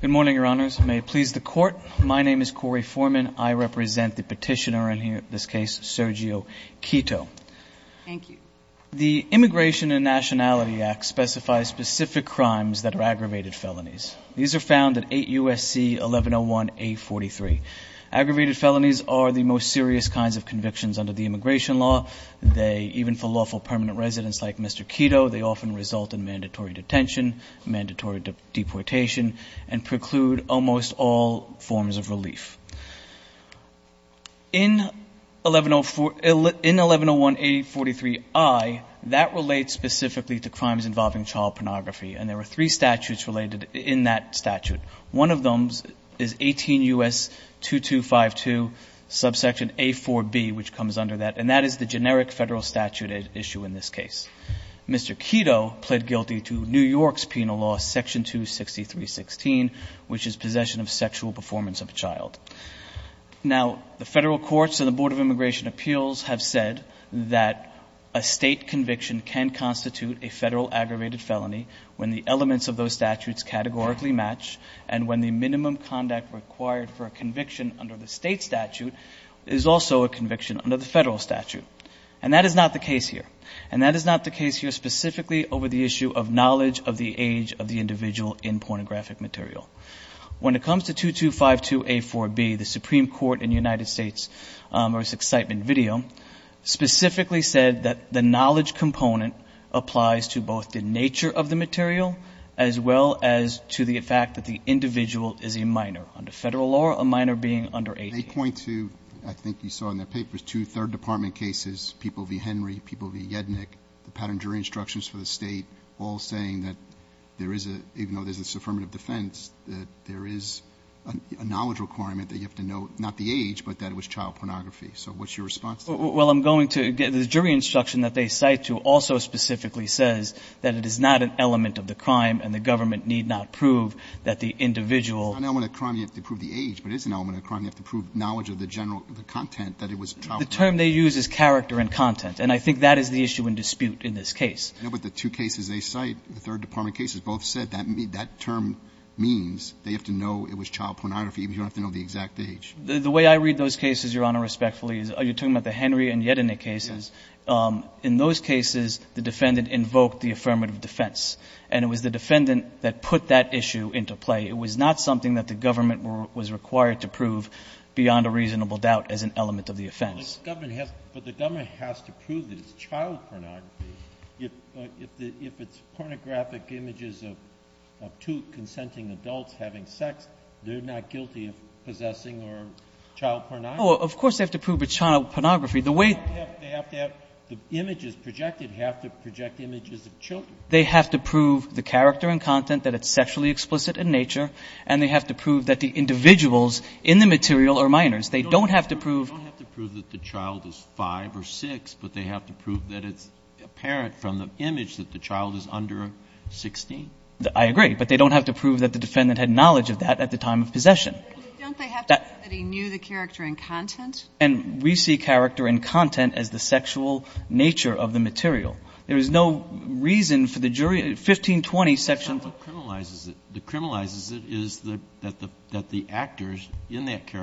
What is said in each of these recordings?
Good morning, Your Honors. May it please the Court, my name is Corey Foreman. I represent the petitioner in this case, Sergio Quito. The Immigration and Nationality Act specifies specific crimes that are aggravated felonies. These are found at 8 U.S.C. 1101-A43. Aggravated felonies are the most serious kinds of convictions under the immigration law. Even for lawful permanent residents like Mr. Quito, they often result in mandatory detention, mandatory deportation, and preclude almost all forms of relief. In 1101-A43I, that relates specifically to crimes involving child pornography, and there are three statutes related in that statute. One of them is 18 U.S. 2252, subsection A4B, which comes under that, and that is the generic federal statute at issue in this case. Mr. Quito pled guilty to New York's penal law, section 263.16, which is possession of sexual performance of a child. Now, the Federal courts and the Board of Immigration Appeals have said that a State conviction can constitute a Federal aggravated felony when the elements of those statutes categorically match and when the minimum conduct required for a conviction under the State statute is also a conviction under the Federal statute. And that is not the case here. And that is not the case here specifically over the issue of knowledge of the age of the individual in pornographic material. When it comes to 2252-A4B, the Supreme Court in the United States, or its excitement video, specifically said that the knowledge component applies to both the nature of the material as well as to the fact that the individual is a minor under Federal law, a minor being under 18. They point to, I think you saw in their papers, two Third Department cases, people v. Henry, people v. Jednick, the pattern jury instructions for the State, all saying that there is a, even though there's this affirmative defense, that there is a knowledge requirement that you have to know not the age, but that it was child pornography. So what's your response to that? Well, I'm going to, the jury instruction that they cite to also specifically says that it is not an element of the crime and the government need not prove that the individual — It's not an element of the crime, you have to prove the age, but it is an element of the crime. You have to prove knowledge of the general, the content, that it was child pornography. The term they use is character and content, and I think that is the issue in dispute in this case. But the two cases they cite, the Third Department cases, both said that term means they have to know it was child pornography, even if you don't have to know the exact The way I read those cases, Your Honor, respectfully, is you're talking about the Henry and Jednick cases. In those cases, the defendant invoked the affirmative defense, and it was the defendant that put that issue into play. It was not something that the government was required to prove beyond a reasonable doubt as an element of the defense. But the government has to prove that it's child pornography. If it's pornographic images of two consenting adults having sex, they're not guilty of possessing or child pornography? Of course they have to prove it's child pornography. The way they have to have — the images projected have to project images of children. They have to prove the character and content, that it's sexually explicit in nature, and they have to prove that the individuals in the material are minors. They don't have to prove — I mean, they don't have to prove that the child is 5 or 6, but they have to prove that it's apparent from the image that the child is under 16. I agree. But they don't have to prove that the defendant had knowledge of that at the time of possession. But don't they have to prove that he knew the character and content? And we see character and content as the sexual nature of the material. There is no reason for the jury — 1520 section — But that's not what criminalizes it. What criminalizes it is that the actors in that of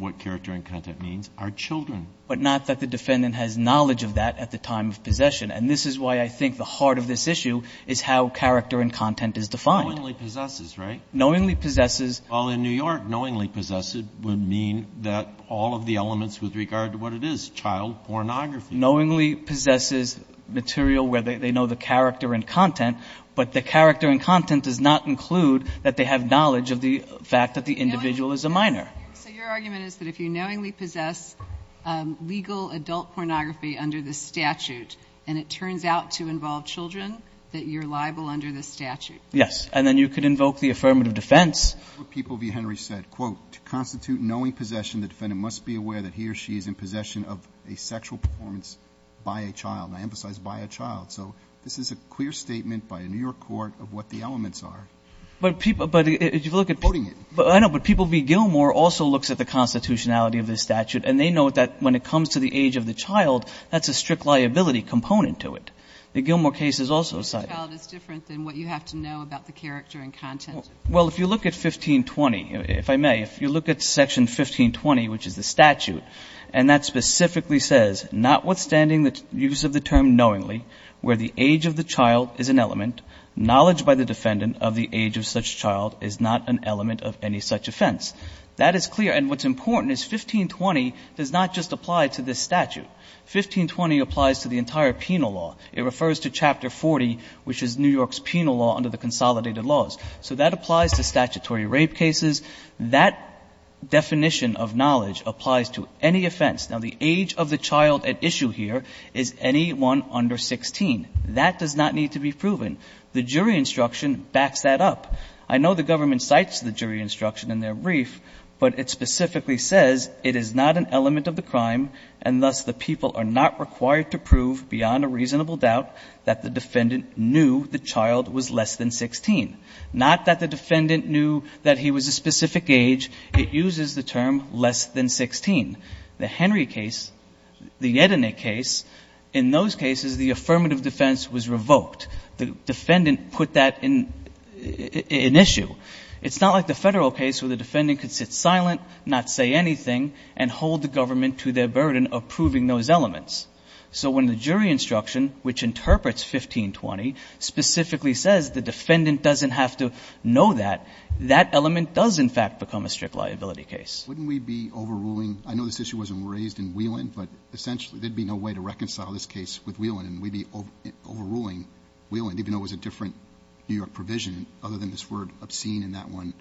what character and content means are children. But not that the defendant has knowledge of that at the time of possession. And this is why I think the heart of this issue is how character and content is defined. Knowingly possesses, right? Knowingly possesses — Well, in New York, knowingly possesses would mean that all of the elements with regard to what it is, child pornography. Knowingly possesses material where they know the character and content, but the character and content does not include that they have knowledge of the fact that the individual is a minor. So your argument is that if you knowingly possess legal adult pornography under the statute and it turns out to involve children, that you're liable under the statute? Yes. And then you could invoke the affirmative defense. People v. Henry said, quote, to constitute knowing possession, the defendant must be aware that he or she is in possession of a sexual performance by a child. I emphasize by a child. So this is a clear statement by a New York court of what the elements are. But people — But if you look at — I'm quoting it. I know, but people v. Gilmour also looks at the constitutionality of this statute and they note that when it comes to the age of the child, that's a strict liability component to it. The Gilmour case is also cited. The age of the child is different than what you have to know about the character and content. Well, if you look at 1520, if I may, if you look at section 1520, which is the statute, and that specifically says, notwithstanding the use of the term knowingly, where the age of the child is an element, knowledge by the defendant of the age of such child is not an element of any such offense. That is clear. And what's important is 1520 does not just apply to this statute. 1520 applies to the entire penal law. It refers to Chapter 40, which is New York's penal law under the consolidated laws. So that applies to statutory rape cases. That definition of knowledge applies to any offense. Now, the age of the child at issue here is anyone under 16. That does not need to be cited. The government cites the jury instruction in their brief, but it specifically says it is not an element of the crime, and thus the people are not required to prove, beyond a reasonable doubt, that the defendant knew the child was less than 16. Not that the defendant knew that he was a specific age. It uses the term less than 16. The Henry case, the Yedeneh case, in those cases, the affirmative defense was revoked. The defendant put that in issue. It's not like the Federal case where the defendant could sit silent, not say anything, and hold the government to their burden of proving those elements. So when the jury instruction, which interprets 1520, specifically says the defendant doesn't have to know that, that element does, in fact, become a strict liability case. Wouldn't we be overruling? I know this issue wasn't raised in Whelan, but essentially there'd be no way to reconcile this case with Whelan, and we'd be overruling Whelan, even though it was a different New York provision, other than this word obscene in that one.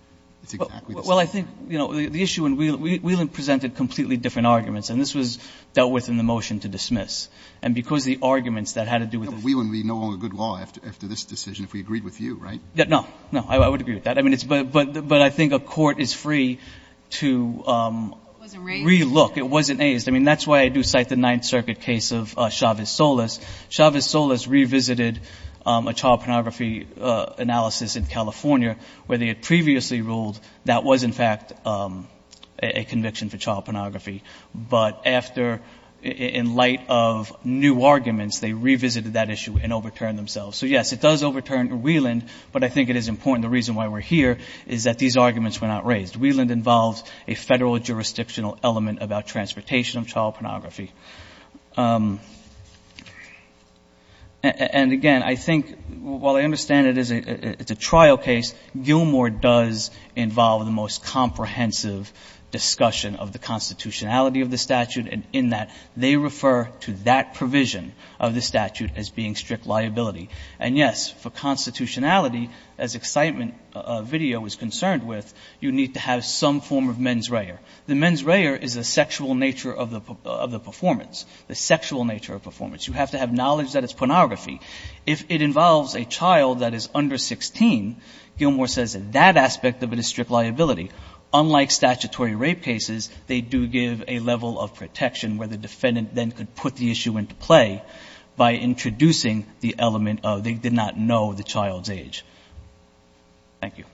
Well, I think, you know, the issue in Whelan, Whelan presented completely different arguments, and this was dealt with in the motion to dismiss. And because the arguments that had to do with the Whelan would be no longer good law after this decision if we agreed with you, right? No. No. I would agree with that. I mean, but I think a court is free to It wasn't raised? I mean, that's why I do cite the Ninth Circuit case of Chavez-Solas. Chavez-Solas revisited a child pornography analysis in California where they had previously ruled that was, in fact, a conviction for child pornography. But after, in light of new arguments, they revisited that issue and overturned themselves. So, yes, it does overturn Whelan, but I think it is important. The reason why we're here is that these arguments were not raised. Whelan involves a Federal jurisdictional element about transportation of child pornography. And, again, I think, while I understand it is a trial case, Gilmour does involve the most comprehensive discussion of the constitutionality of the statute, in that they refer to that provision of the statute as being strict liability. And, yes, for constitutionality, as excitement video was concerned with, you need to have some form of mens rea. The mens rea is the sexual nature of the performance, the sexual nature of performance. You have to have knowledge that it's pornography. If it involves a child that is under 16, Gilmour says that aspect of it is strict liability. Unlike statutory rape cases, they do give a level of protection where the defendant then could put the issue into play by introducing the element of they did not know the child's age. Thank you.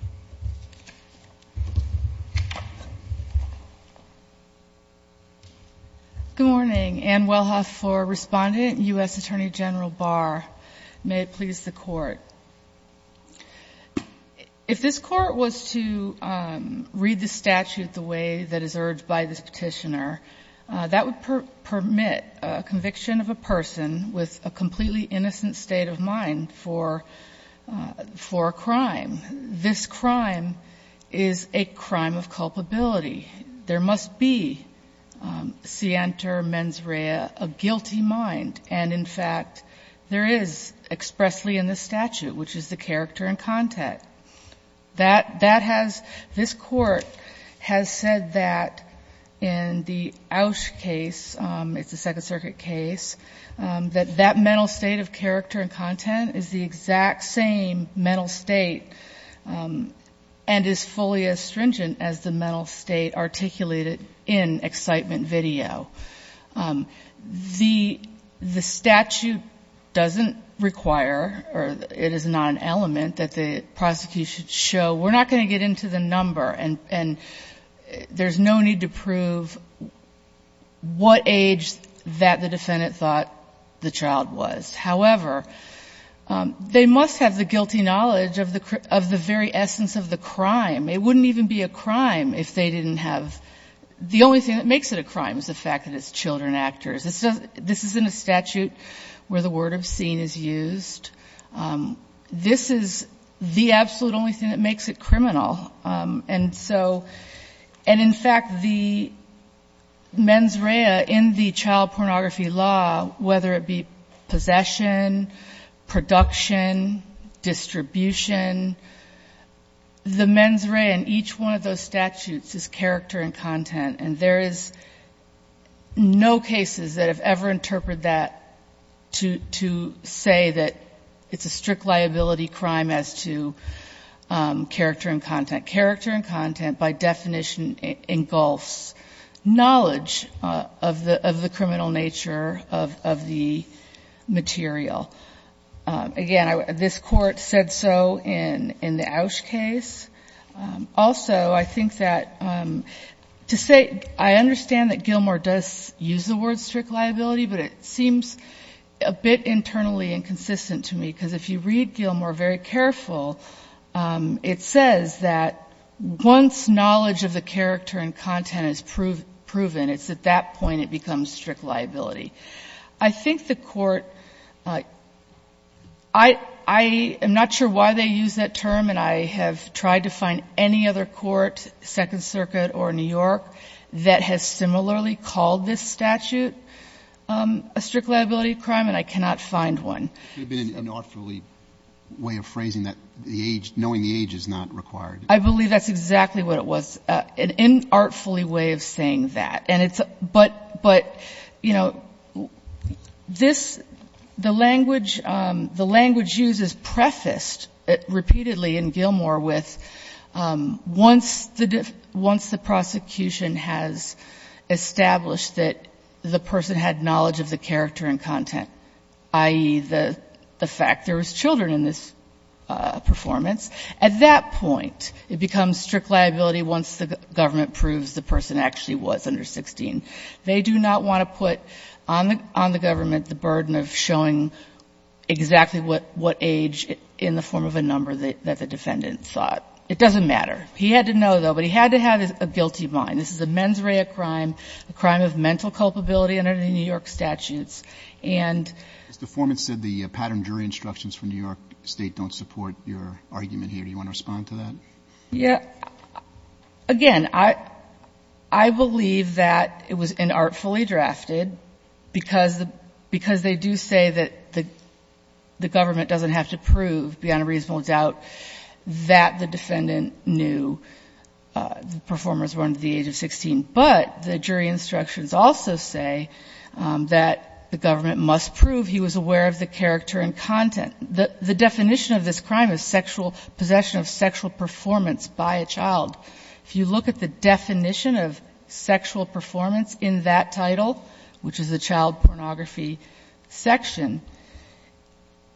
Good morning. Anne Wellhoff for Respondent, U.S. Attorney General Barr. May it please the Court. If this Court was to read the statute the way that is urged by this Petitioner, that would permit a conviction of a person with a completely for a crime. This crime is a crime of culpability. There must be sienter mens rea, a guilty mind, and, in fact, there is expressly in the statute, which is the character and content. That has this Court has said that in the Oush case, it's a Second Circuit case, that that mental state of character and content is the exact same mental state and is fully as stringent as the mental state articulated in excitement video. The statute doesn't require or it is not an element that the prosecution should show. We're not going to get into the number, and there's no need to prove what age that the defendant thought the child was. However, they must have the guilty knowledge of the very essence of the crime. It wouldn't even be a crime if they didn't have the only thing that makes it a crime is the fact that it's children actors. This isn't a statute where the word obscene is used. This is the absolute only thing that makes it criminal. And so and, in fact, the mens rea in the child pornography law, whether it be possession, production, distribution, the mens rea in each one of those statutes is character and content, and there is no cases that have ever interpreted that to say that it's a strict liability crime as to character and content. By definition, engulfs knowledge of the criminal nature of the material. Again, this court said so in the Oush case. Also, I think that to say I understand that Gilmore does use the word strict liability, but it seems a bit internally inconsistent to me, because if you read Gilmore very careful, it says that once knowledge of the character and content is proven, it's at that point it becomes strict liability. I think the court, I am not sure why they use that term, and I have tried to find any other court, Second Circuit or New York, that has similarly called this statute a strict liability crime, and I cannot find one. It could have been an artfully way of phrasing that, knowing the age is not required. I believe that's exactly what it was, an artfully way of saying that. And it's — but, you know, this — the language used is prefaced repeatedly in Gilmore with once the — once the prosecution has established that the person had knowledge of the character and content, i.e., the fact there was children in this performance, at that point it becomes strict liability once the government proves the person actually was under 16. They do not want to put on the government the burden of showing exactly what age in the form of a number that the defendant sought. It doesn't matter. He had to know, though, but he had to have a guilty mind. This is a mens rea crime, a crime of mental culpability under the New York statutes. And the former said the pattern jury instructions from New York State don't support your argument here. Do you want to respond to that? Yeah. Again, I believe that it was an artfully drafted because the — because they do say that the government doesn't have to prove beyond a reasonable doubt that the defendant knew the performers were under the age of 16. But the jury instructions also say that the government must prove he was aware of the character and content. The definition of this crime is sexual — possession of sexual performance by a child. If you look at the definition of sexual performance in that title, which is the child pornography section,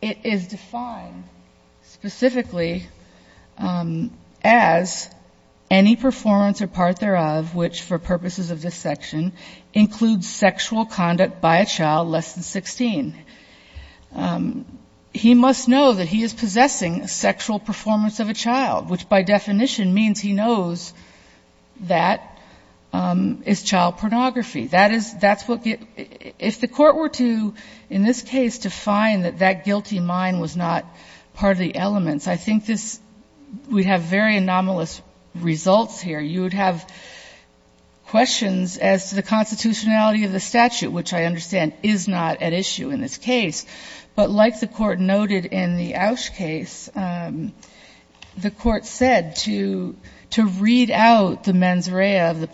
it is defined specifically as any performance or part thereof which, for purposes of this section, includes sexual conduct by a child less than 16. He must know that he is possessing sexual performance of a child, which by definition means he knows that is child pornography. That is — that's what — if the Court were to, in this case, define that that guilty mind was not part of the elements, I think this — we'd have very anomalous results here. You would have questions as to the constitutionality of the statute, which I understand is not at issue in this case. But like the Court noted in the Oush case, the Court said to — to read out the mens rea — the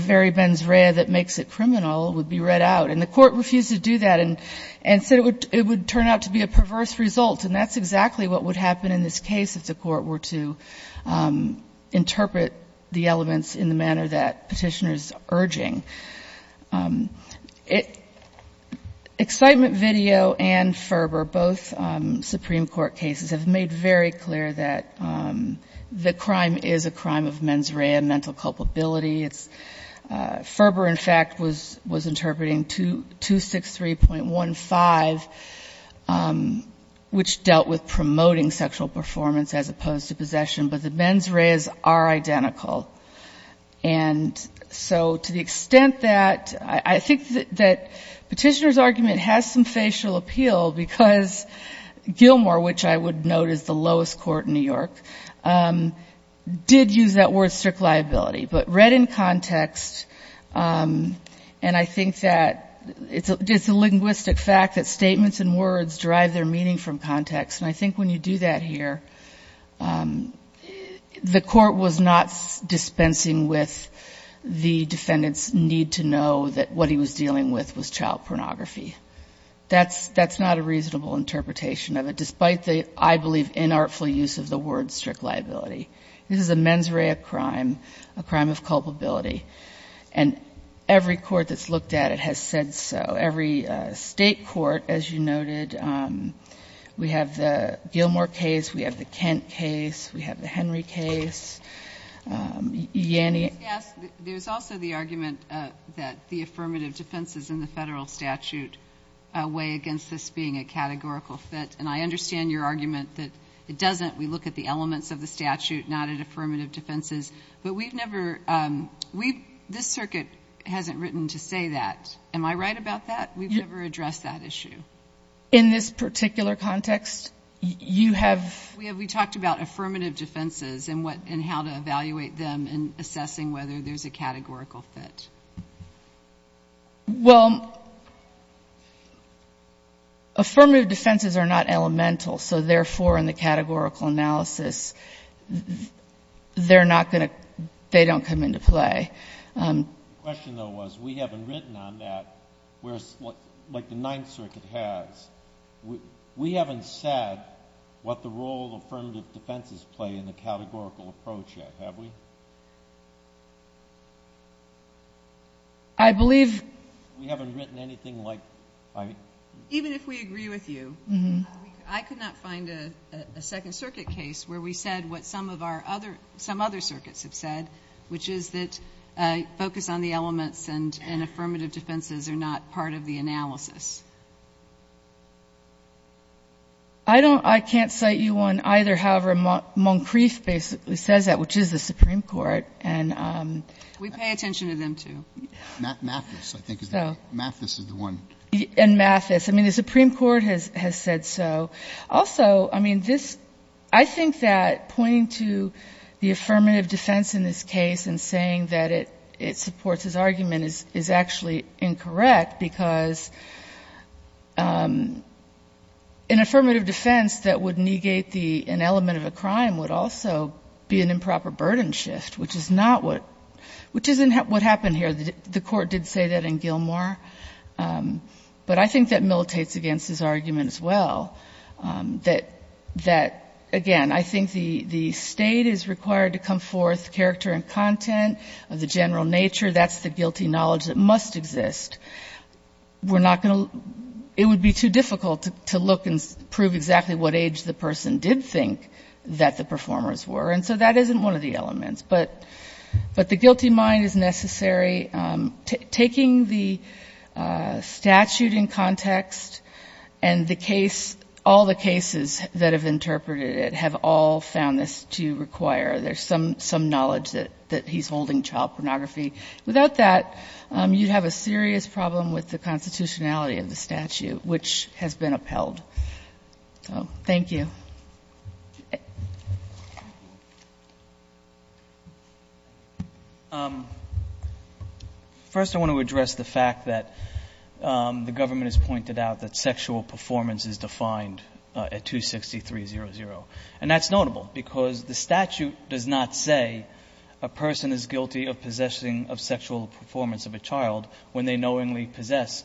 very mens rea that makes it criminal would be read out, and the Court refused to do that and said it would turn out to be a perverse result, and that's exactly what would happen in this case if the Court were to interpret the elements of the statute differently. Excitement video and Ferber, both Supreme Court cases, have made very clear that the crime is a crime of mens rea and mental culpability. It's — Ferber, in fact, was interpreting 263.15, which dealt with promoting sexual performance as opposed to possession, but the mens reas are identical. And so to the extent that — I think that Petitioner's argument has some facial appeal, because Gilmore, which I would note is the lowest court in New York, did use that word strict liability. But read in context, and I think that it's a linguistic fact that statements and words derive their meaning from context, and I think when you do that here, the Court was not dispensing with the defendant's need to know that what he was dealing with was child pornography. That's not a reasonable interpretation of it, despite the, I believe, inartful use of the word strict liability. This is a mens rea crime, a crime of culpability, and every court that's looked at it has said so. Every State court, as you noted, we have the Gilmore case, we have the Kent case, we have the Henry case, Yanni — Yes, there's also the argument that the affirmative defenses in the Federal statute weigh against this being a categorical fit, and I understand your argument that it doesn't. We look at the elements of the statute, not at affirmative defenses. But we've never — we've — this Circuit hasn't written to say that. Am I right about that? We've never addressed that issue. In this particular context, you have — We have — we talked about affirmative defenses and what — and how to evaluate them in assessing whether there's a categorical fit. Well, affirmative defenses are not elemental, so therefore, in the categorical analysis, they're not going to — they don't come into play. The question, though, was we haven't written on that, whereas — like the Ninth Circuit has, we haven't said what the role affirmative defenses play in the categorical approach yet, have we? I believe — We haven't written anything like — Even if we agree with you, I could not find a Second Circuit case where we said what some of our other — some other circuits have said, which is that focus on the elements and affirmative defenses are not part of the analysis. I don't — I can't cite you on either, however, Moncrief basically says that, which is the Supreme Court, and — We pay attention to them, too. Mathis, I think, is the — Mathis is the one. And Mathis. I mean, the Supreme Court has said so. Also, I mean, this — I think that pointing to the affirmative defense in this case and saying that it supports his argument is actually incorrect, because an affirmative defense that would negate the — an element of a crime would also be an improper burden shift, which is not what — which isn't what happened here. The Court did say that in Gilmore. But I think that militates against his argument as well, that — that, again, I think the — the State is required to come forth character and content of the general nature. That's the guilty knowledge that must exist. We're not going to — it would be too difficult to look and prove exactly what age the person did think that the performers were. And so that isn't one of the elements. But — but the guilty mind is necessary. Taking the statute in context and the case — all the cases that have interpreted it have all found this to require — there's some — some knowledge that he's holding child pornography. Without that, you'd have a serious problem with the constitutionality of the statute, which has been upheld. So, thank you. First, I want to address the fact that the government has pointed out that sexual performance of a child is not defined in the statute. The statute does not say that a person is guilty of possessing of sexual performance of a child when they knowingly possess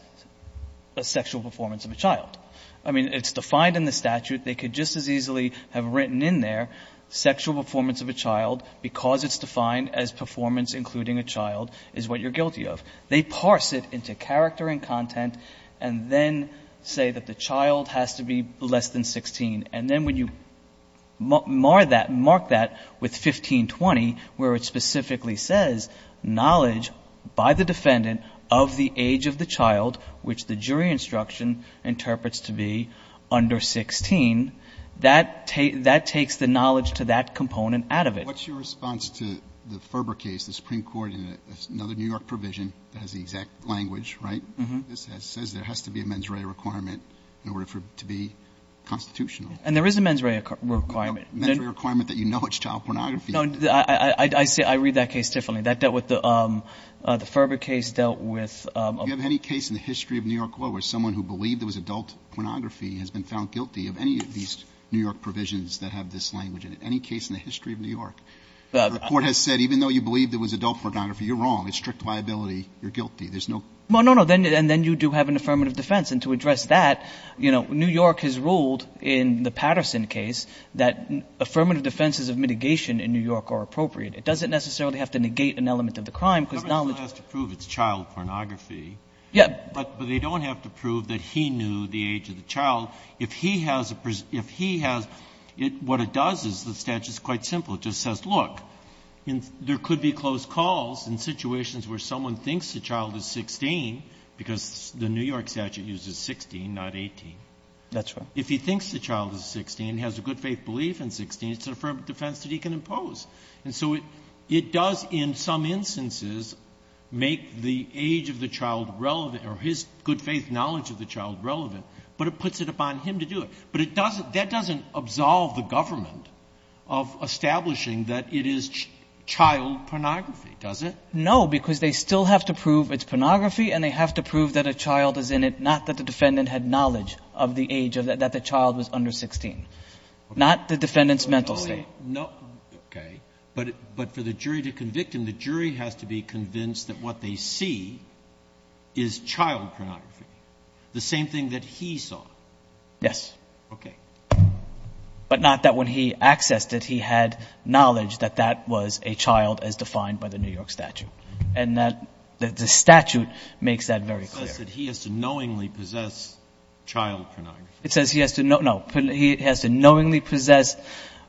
a sexual performance of a child. I mean, it's defined in the statute. They could just as easily have written in there, sexual performance of a child, because it's defined as performance including a child, is what you're guilty of. They parse it into character and content and then say that the child has to be less than 16, and then when you mark that with 1520, where it specifically says knowledge by the defendant of the age of the child, which the jury instruction interprets to be under 16, that takes the knowledge to that component out of it. What's your response to the Ferber case, the Supreme Court in another New York provision that has the exact language, right? Mm-hmm. This says there has to be a mens rea requirement in order for it to be constitutional. And there is a mens rea requirement. A mens rea requirement that you know it's child pornography. No. I read that case differently. That dealt with the Ferber case, dealt with a ---- Do you have any case in the history of New York law where someone who believed it was adult pornography has been found guilty of any of these New York provisions that have this language in it, any case in the history of New York? The Court has said even though you believed it was adult pornography, you're wrong. It's strict liability. You're guilty. There's no ---- Well, no, no. And then you do have an affirmative defense. And to address that, you know, New York has ruled in the Patterson case that affirmative defenses of mitigation in New York are appropriate. It doesn't necessarily have to negate an element of the crime, because knowledge ---- Congress still has to prove it's child pornography. Yeah. But they don't have to prove that he knew the age of the child. If he has a ---- if he has ---- what it does is the statute is quite simple. It just says, look, there could be close calls in situations where someone thinks the child is 16, because the New York statute uses 16, not 18. That's right. If he thinks the child is 16, has a good faith belief in 16, it's an affirmative defense that he can impose. And so it does in some instances make the age of the child relevant or his good faith knowledge of the child relevant, but it puts it upon him to do it. But it doesn't ---- that doesn't absolve the government of establishing that it is child pornography, does it? No, because they still have to prove it's pornography and they have to prove that a child is in it, not that the defendant had knowledge of the age, that the child was under 16. Not the defendant's mental state. Okay. But for the jury to convict him, the jury has to be convinced that what they see is child pornography, the same thing that he saw. Yes. Okay. But not that when he accessed it, he had knowledge that that was a child as defined by the New York statute. And that the statute makes that very clear. It says that he has to knowingly possess child pornography. It says he has to know ---- no, he has to knowingly possess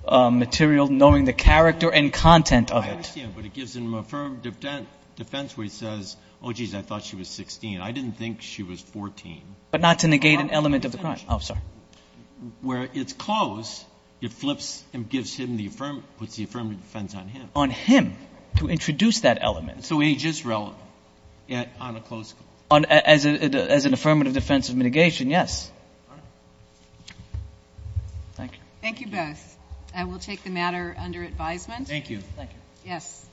material knowing the character and content of it. I understand, but it gives him affirmative defense where he says, oh, geez, I thought she was 16. I didn't think she was 14. But not to negate an element of the crime. Oh, sorry. Where it's closed, it flips and gives him the affirmative ---- puts the affirmative defense on him. To introduce that element. So age is relevant. Yet on a closed case. As an affirmative defense of mitigation, yes. All right. Thank you. Thank you both. I will take the matter under advisement. Thank you. Thank you. Yes.